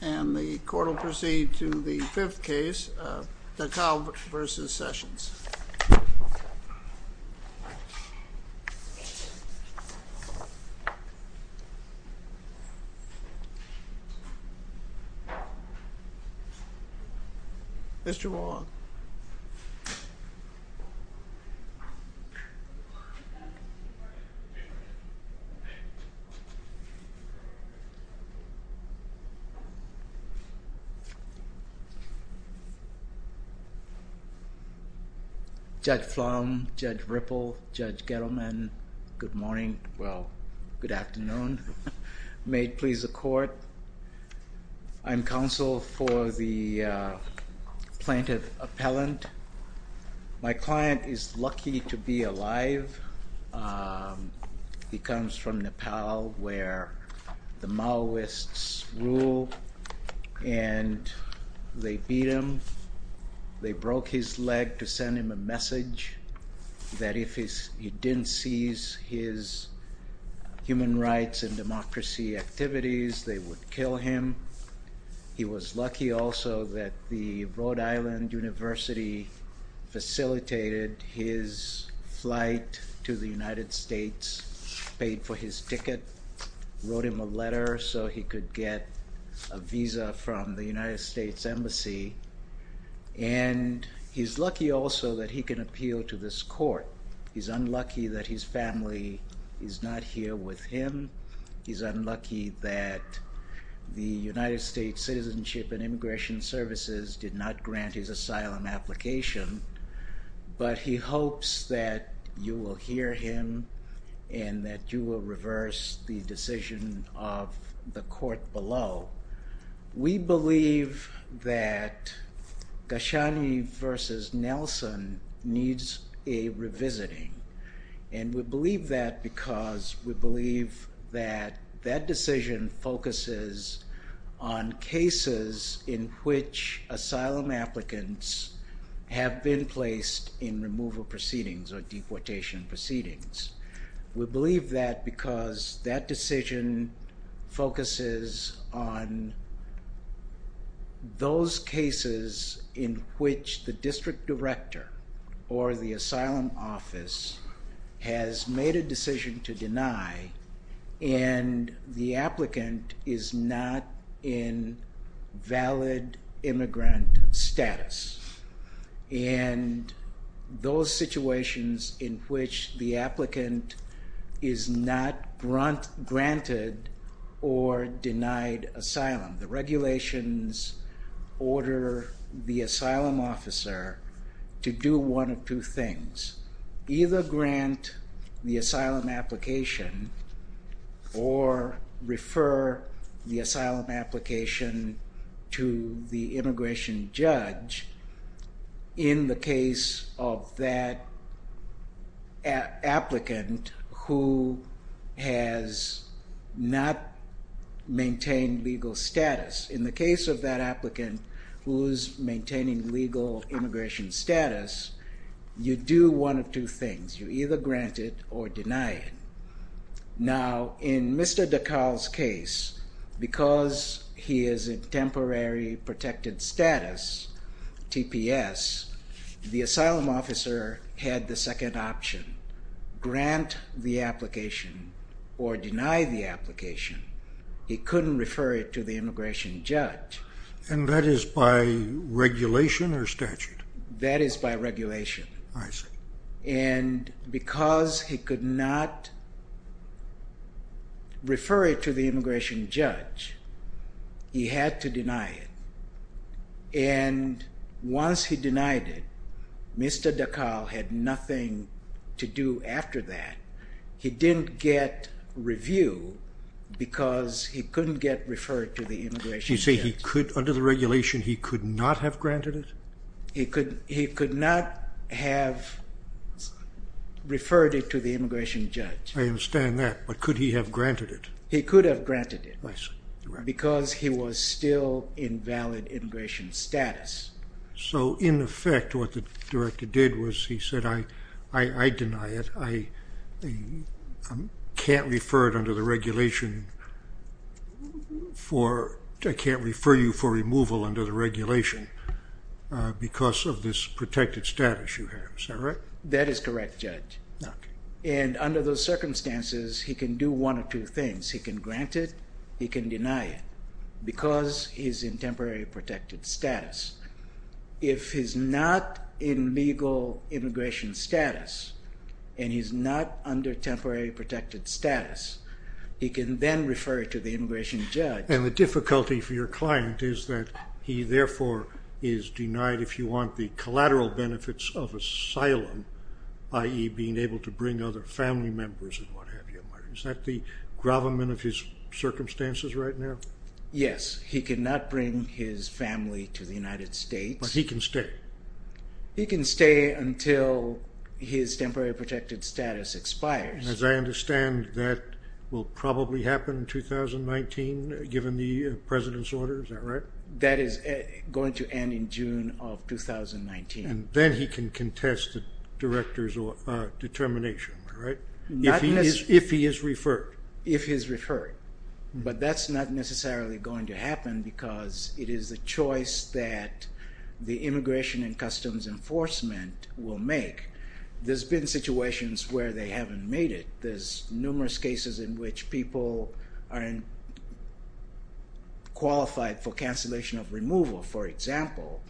And the court will proceed to the fifth case, Dhakal v. Sessions. Mr. Wong. Judge Flom, Judge Ripple, Judge Gettleman, good morning, well, good afternoon. May it please the court. I'm counsel for the plaintiff appellant. My client is lucky to be alive. He comes from Nepal, where the Maoists rule, and they beat him. They broke his leg to send him a message that if he didn't seize his human rights and democracy activities, they would kill him. He was lucky also that the Rhode Island University facilitated his flight to the United States, paid for his ticket, wrote him a letter so he could get a visa from the United States Embassy. And he's lucky also that he can appeal to this court. He's unlucky that the United States Citizenship and Immigration Services did not grant his asylum application, but he hopes that you will hear him and that you will reverse the decision of the court below. We believe that Ghoshani v. Nelson needs a revisiting, and we believe that because we believe that that decision focuses on cases in which asylum applicants have been placed in removal proceedings or deportation proceedings. We believe that because that decision focuses on those cases in which the district director or the asylum office has made a decision to deny, and the applicant is not in valid immigrant status, and those situations in which the applicant is not granted or denied asylum. The regulations order the asylum officer to do one of two things. Either grant the asylum application or refer the asylum application to the immigration judge in the case of that applicant who has not maintained legal status. In the case of that applicant who's maintaining legal immigration status, you do one of two things. You either grant it or deny it. Now, in Mr. DeKalb's case, because he is in temporary protected status, TPS, the asylum officer had the second option, grant the application or deny the application. He couldn't refer it to the immigration judge. And that is by regulation or statute? That is by regulation. I see. And because he could not refer it to the immigration judge, he had to deny it. And once he denied it, Mr. DeKalb had nothing to do after that. He didn't get review because he couldn't get referred to the immigration judge. You say he could, under the regulation, he could not have granted it? He could not have referred it to the immigration judge. I understand that, but could he have granted it? He could have granted it. I see. Because he was still in valid immigration status. So, in effect, what the director did was he said, I deny it. I can't refer it under the regulation for, I can't refer you for removal under the regulation because of this protected status you have. Is that right? That is correct, Judge. Okay. And under those circumstances, he can do one of two things. He can grant it. He can deny it because he's in temporary protected status. If he's not in legal immigration status and he's not under temporary protected status, he can then refer it to the immigration judge. And the difficulty for your client is that he, therefore, is denied if you want the collateral benefits of asylum, i.e. being able to bring other family members and what of his circumstances right now? Yes. He cannot bring his family to the United States. But he can stay? He can stay until his temporary protected status expires. And as I understand, that will probably happen in 2019, given the president's order. Is that right? That is going to end in June of 2019. And then he can contest the director's determination, right? If he is referred. If he is referred. But that's not necessarily going to happen because it is the choice that the Immigration and Customs Enforcement will make. There's been situations where they haven't made it. There's numerous cases in which people aren't qualified for cancellation of removal, for example,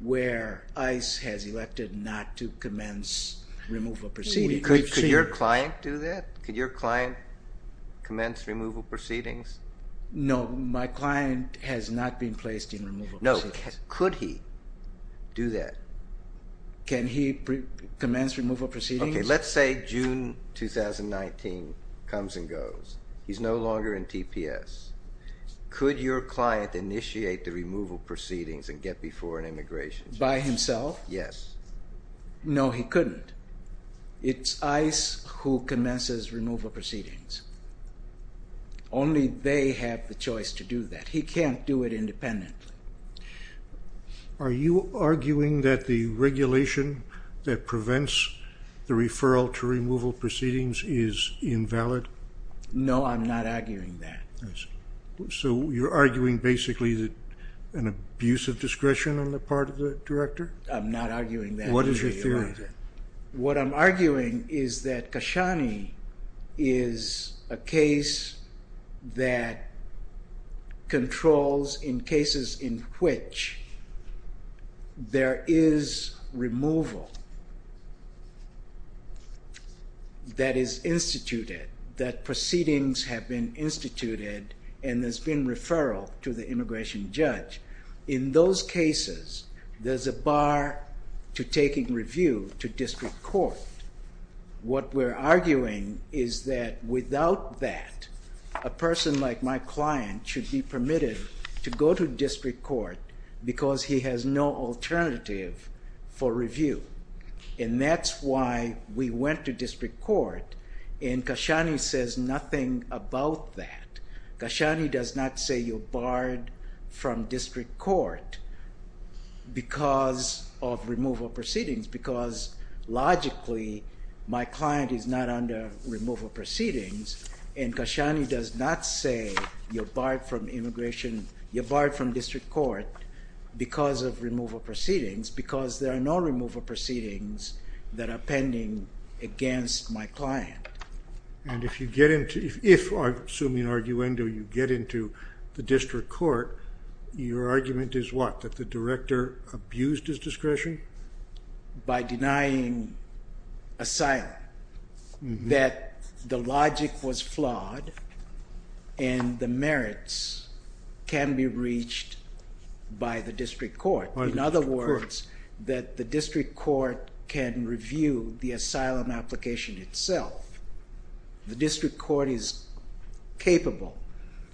where ICE has elected not to commence removal proceedings. Could your client do that? Could your client commence removal proceedings? No, my client has not been placed in removal proceedings. No, could he do that? Can he commence removal proceedings? Okay, let's say June 2019 comes and goes. He's no longer in TPS. Could your client initiate the removal proceedings and get before an immigration? By himself? Yes. No, he couldn't. It's ICE who commences removal proceedings. Only they have the choice to do that. He can't do it independently. Are you arguing that the regulation that prevents the referral to removal proceedings is invalid? No, I'm not Is there discretion on the part of the director? I'm not arguing that. What is your theory? What I'm arguing is that Kashani is a case that controls in cases in which there is removal that is instituted, that there's a bar to taking review to district court. What we're arguing is that without that, a person like my client should be permitted to go to district court because he has no alternative for review. And that's why we went to district court because of removal proceedings. Because logically, my client is not under removal proceedings and Kashani does not say you're barred from immigration, you're barred from district court because of removal proceedings because there are no removal proceedings that are pending against my client. And if you get into, if I assume in the district court, your argument is what? That the director abused his discretion? By denying asylum. That the logic was flawed and the merits can be reached by the district court. In other words, that the district court can review the asylum application itself. The district court is capable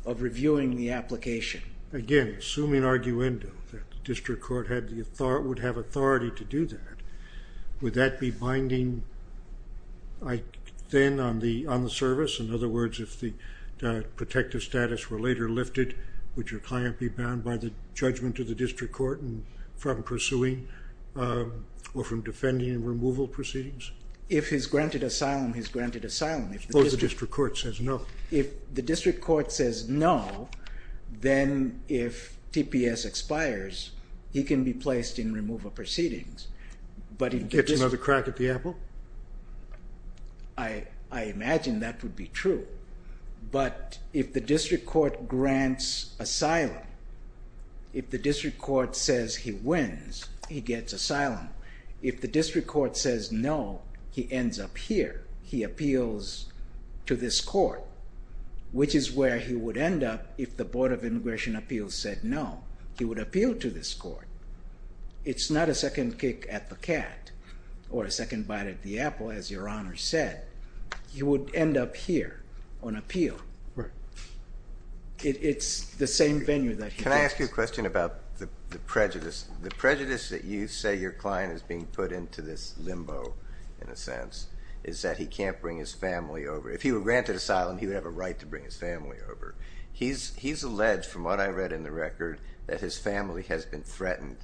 of reviewing the application. Again, assuming arguendo that the district court would have authority to do that, would that be binding then on the service? In other words, if the protective status were later lifted, would your client be bound by the judgment of the district court from pursuing or from defending removal proceedings? If he's granted asylum, he's granted asylum. If the district court says no, then if TPS expires, he can be placed in removal proceedings. But he gets another crack at the apple? I imagine that would be true. But if the district court grants asylum, if the district court says no, he ends up here. He appeals to this court, which is where he would end up if the Board of Immigration Appeals said no. He would appeal to this court. It's not a second kick at the cat or a second bite at the apple, as Your Honor said. He would end up here on appeal. It's the same venue that he gets. Let me ask you a question about the prejudice. The prejudice that you say your client is being put into this limbo, in a sense, is that he can't bring his family over. If he were granted asylum, he would have a right to bring his family over. He's alleged, from what I read in the record, that his family has been threatened,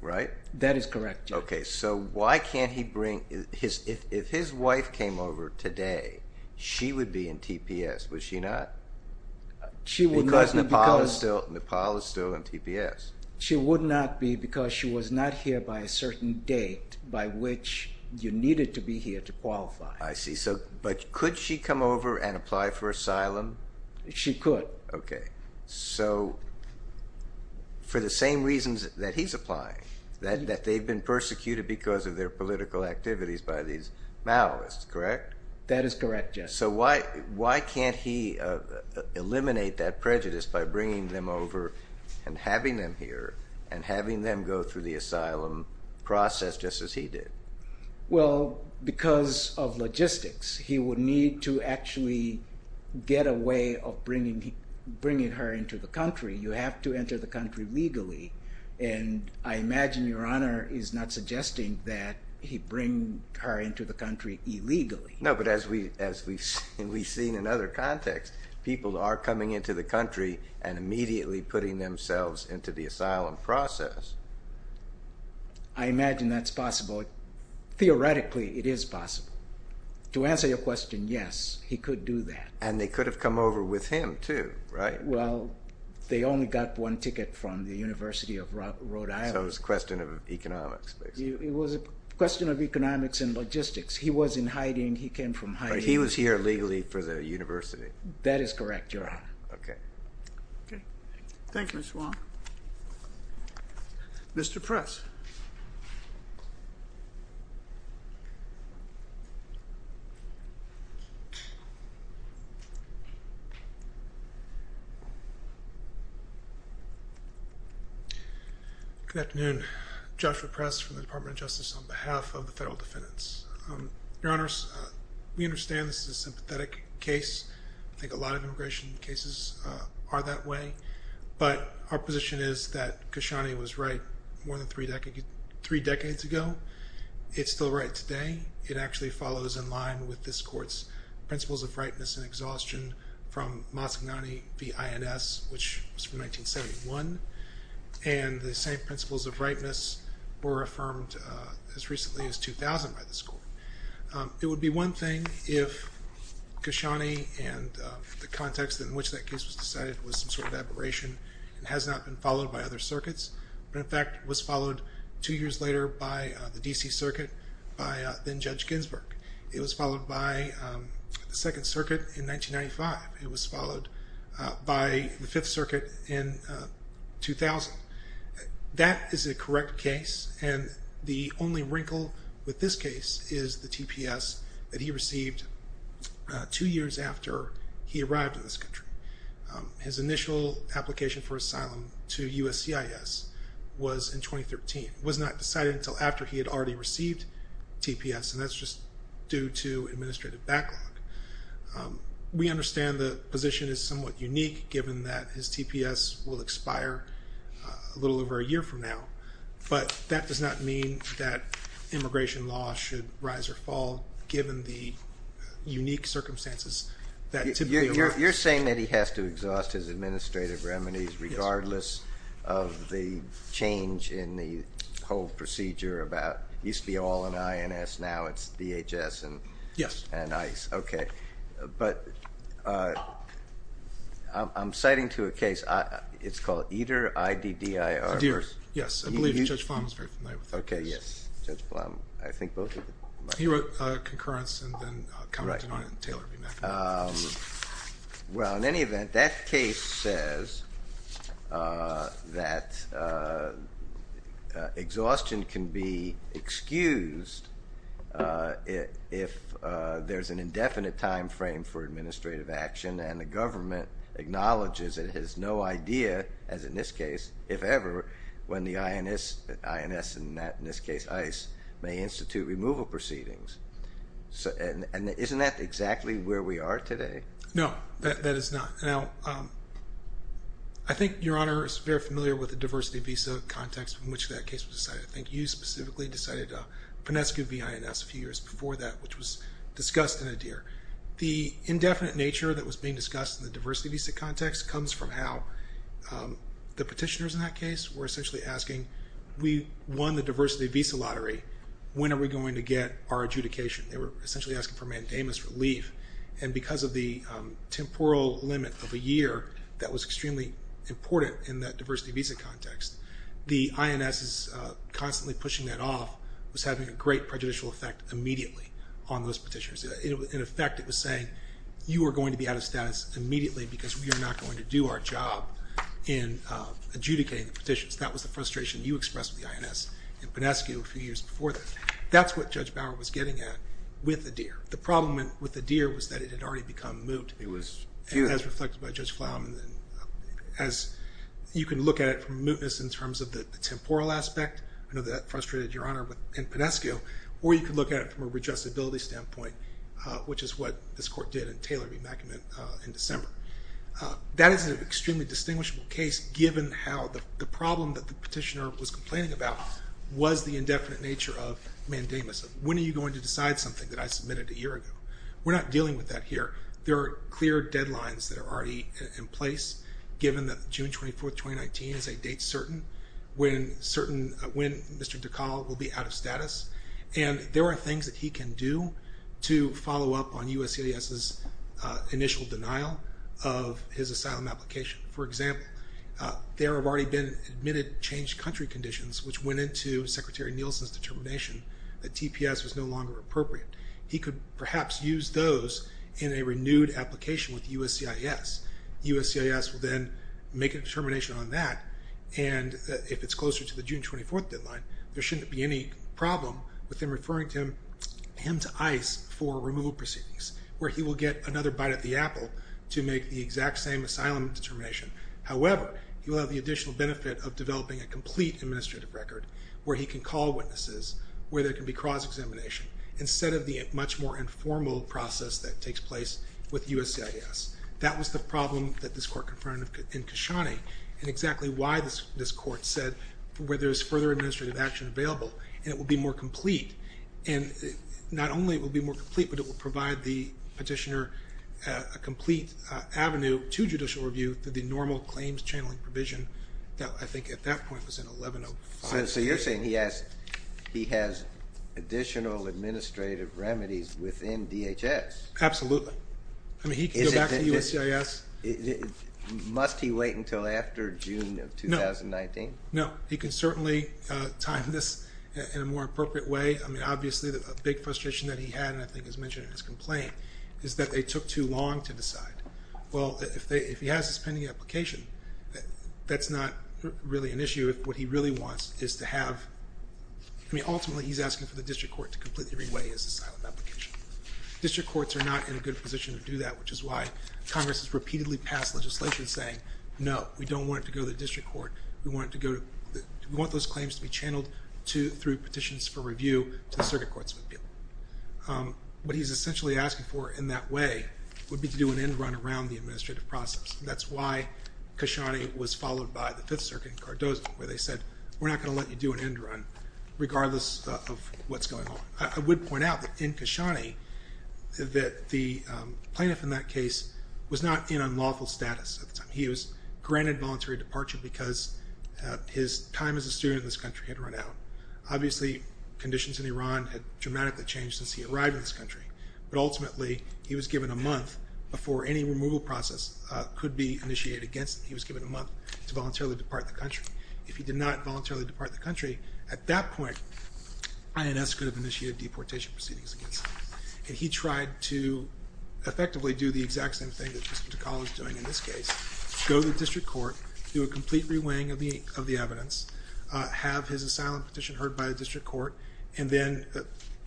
right? That is correct, Your Honor. Okay, so why can't he bring his, if his wife came over today, she would be in TPS, would she not? Because Nepal is still in TPS. She would not be because she was not here by a certain date by which you needed to be here to qualify. I see, so, but could she come over and apply for asylum? She could. Okay, so for the same reasons that he's applying, that they've been persecuted because of their political activities by these Maoists, correct? That is correct, yes. So why can't he eliminate that prejudice by bringing them over and having them here and having them go through the asylum process just as he did? Well, because of logistics, he would need to actually get a way of bringing her into the country. You have to enter the country legally and I imagine Your Honor is not suggesting that he bring her into the country illegally. No, but as we've seen in other contexts, people are coming into the country and immediately putting themselves into the asylum process. I imagine that's possible. Theoretically, it is possible. To answer your question, yes, he could have come over with him too, right? Well, they only got one ticket from the University of Rhode Island. So it's a question of economics, basically. It was a question of economics and logistics. He was in hiding, he came from hiding. He was here legally for the university. That is correct, Your Honor. Okay. Okay, thank you, Mr. Wong. Mr. Press. Good afternoon. Joshua Press from the Department of Justice on behalf of the Federal Defendants. Your Honors, we understand this is a sympathetic case. I think a lot of immigration cases are that way, but our position is that Khashoggi was right more than three decades ago. It's still right today. It actually follows in line with this question from Mazgani v. INS, which was from 1971, and the same principles of rightness were affirmed as recently as 2000 by this court. It would be one thing if Khashoggi and the context in which that case was decided was some sort of aberration and has not been followed by other circuits, but in fact was followed two years later by the D.C. Circuit, by then Judge Ginsburg. It was followed by the Second Circuit in 1995. It was followed by the Fifth Circuit in 2000. That is a correct case, and the only after he had already received TPS, and that's just due to administrative backlog. We understand the position is somewhat unique, given that his TPS will expire a little over a year from now, but that does not mean that immigration law should rise or fall, given the unique circumstances that typically allow it. You're saying that he has to exhaust his administrative remedies regardless of the change in the whole procedure about, it used to be all in INS, now it's DHS and ICE. Yes. Okay, but I'm citing to a case, it's called Eder, I-D-D-I-R. Yes, I believe Judge Flom is very familiar with this. Okay, yes, Judge Flom, I think both of you. He wrote concurrence and then commented on it in Taylor v. McNamara. Well, in any event, that case says that exhaustion can be excused if there's an indefinite time frame for administrative action and the government acknowledges it has no idea, as in this case, if ever, when the INS, in this case, ICE, may institute removal proceedings. And isn't that exactly where we are today? No, that is not. Now, I think Your Honor is very familiar with the diversity visa context in which that case was decided. I think you specifically decided Pinescu v. INS a few years before that, which was discussed in Eder. The indefinite nature that was being discussed in the diversity visa context comes from how the petitioners in that case were essentially asking, we won the diversity visa lottery, when are we going to get our adjudication? They were essentially asking for mandamus relief. And because of the temporal limit of a year that was extremely important in that diversity visa context, the INS is constantly pushing that off, was having a great prejudicial effect immediately on those petitioners. In effect, it was saying, you are going to be out of status immediately because we are not going to do our job in adjudicating the petitions. That was the frustration you expressed with the INS in Pinescu a few years before that. That's what Judge Bauer was getting at with Eder. The problem with Eder was that it had already become moot. It was. As reflected by Judge Flaumann, as you can look at it from mootness in terms of the temporal aspect, I know that frustrated Your Honor in Pinescu, or you could look at it from a readjustability standpoint. Which is what this court did in Taylor v. MacCormick in December. That is an extremely distinguishable case given how the problem that the petitioner was complaining about was the indefinite nature of mandamus. When are you going to decide something that I submitted a year ago? We're not dealing with that here. There are clear deadlines that are already in place given that June 24th, 2019 is a date certain when certain, when Mr. DeCaul will be out of status. And there are things that he can do to follow up on USCIS's initial denial of his asylum application. For example, there have already been admitted changed country conditions which went into Secretary Nielsen's determination that TPS was no longer appropriate. He could perhaps use those in a renewed application with USCIS. USCIS will then make a determination on that. And if it's closer to the June 24th deadline, there shouldn't be any problem with him referring him to ICE for removal proceedings where he will get another bite at the apple to make the exact same asylum determination. However, he will have the additional benefit of developing a complete administrative record where he can call witnesses, where there can be cross-examination instead of the much more informal process that takes place with USCIS. That was the problem that this court confronted in Kashani, and exactly why this court said where there's further administrative action available, and it will be more complete. And not only will it be more complete, but it will provide the petitioner a complete avenue to judicial review through the normal claims channeling provision that I think at that point was in 1105. So you're saying he has additional administrative remedies within DHS? Absolutely. I mean, he can go back to USCIS. Must he wait until after June of 2019? No. He can certainly time this in a more appropriate way. I mean, obviously, the big frustration that he had, and I think is mentioned in his complaint, is that they took too long to decide. Well, if he has this pending application, that's not really an issue. Ultimately, he's asking for the district court to completely reweigh his asylum application. District courts are not in a good position to do that, which is why Congress has repeatedly passed legislation saying, no, we don't want it to go to the district court. We want those claims to be channeled through petitions for review to the circuit courts. What he's essentially asking for in that way would be to do an end run around the administrative process. That's why Khashoggi was followed by the Fifth Circuit in Cardozo, where they said, we're not going to let you do an end run, regardless of what's going on. I would point out that in Khashoggi, that the plaintiff in that case was not in unlawful status at the time. He was granted voluntary departure because his time as a student in this country had run out. Obviously, conditions in Iran had dramatically changed since he arrived in this country. But ultimately, he was given a month before any removal process could be initiated against him. He was given a month to voluntarily depart the country. If he did not voluntarily depart the country, at that point, INS could have initiated deportation proceedings against him. And he tried to effectively do the exact same thing that Mr. Takala is doing in this case. Go to the district court, do a complete reweighing of the evidence, have his asylum petition heard by the district court, and then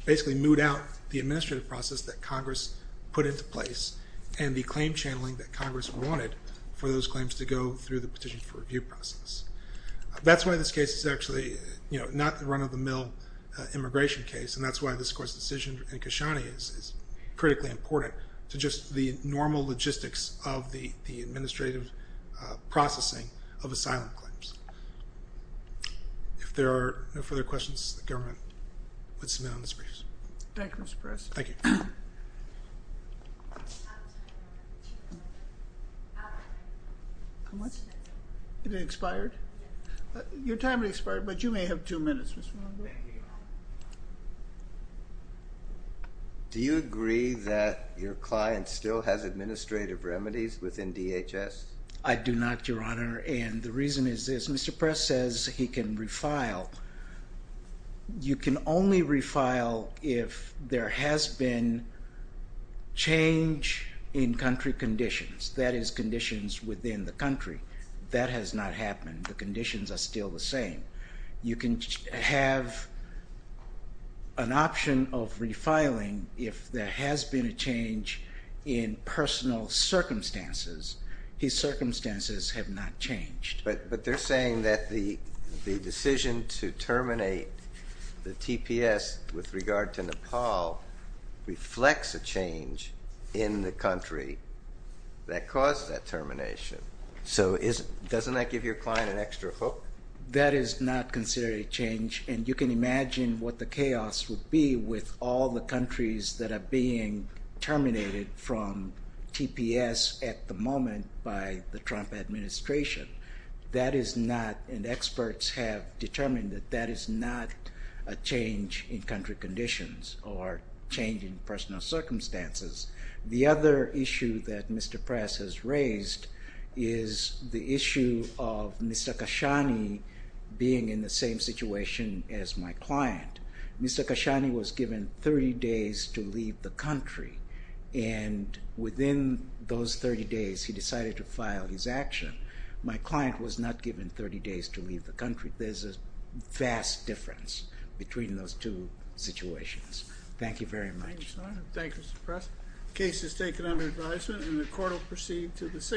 basically moot out the administrative process that Congress put into place and the claim channeling that Congress wanted for those claims to go through the petition for review process. That's why this case is actually not a run-of-the-mill immigration case, and that's why this court's decision in Khashoggi is critically important to just the normal logistics of the administrative processing of asylum claims. If there are no further questions, the government would submit on this briefs. Thank you, Mr. President. Thank you. It expired? Your time has expired, but you may have two minutes. Do you agree that your client still has administrative remedies within DHS? I do not, Your Honor, and the reason is this. Mr. Press says he can refile. You can only refile if there has been change in country conditions, that is, conditions within the country. That has not happened. The conditions are still the same. You can have an option of refiling if there has been a change in personal circumstances. His circumstances have not changed. But they're saying that the decision to terminate the TPS with regard to Nepal reflects a change in the country that caused that termination. So doesn't that give your client an extra hook? That is not considered a change, and you can imagine what the chaos would be with all the countries that are being terminated from TPS at the moment by the Trump administration. That is not, and experts have determined that that is not a change in country conditions or change in personal circumstances. The other issue that Mr. Press has raised is the issue of Mr. Khashoggi being in the same situation as my client. Mr. Khashoggi was given 30 days to leave the country, and within those 30 days he decided to file his action. My client was not given 30 days to leave the country. There's a vast difference between those two situations. Thank you very much. Thank you, Senator. Thank you, Mr. Press. The case is taken under advisement, and the court will proceed to the 6th.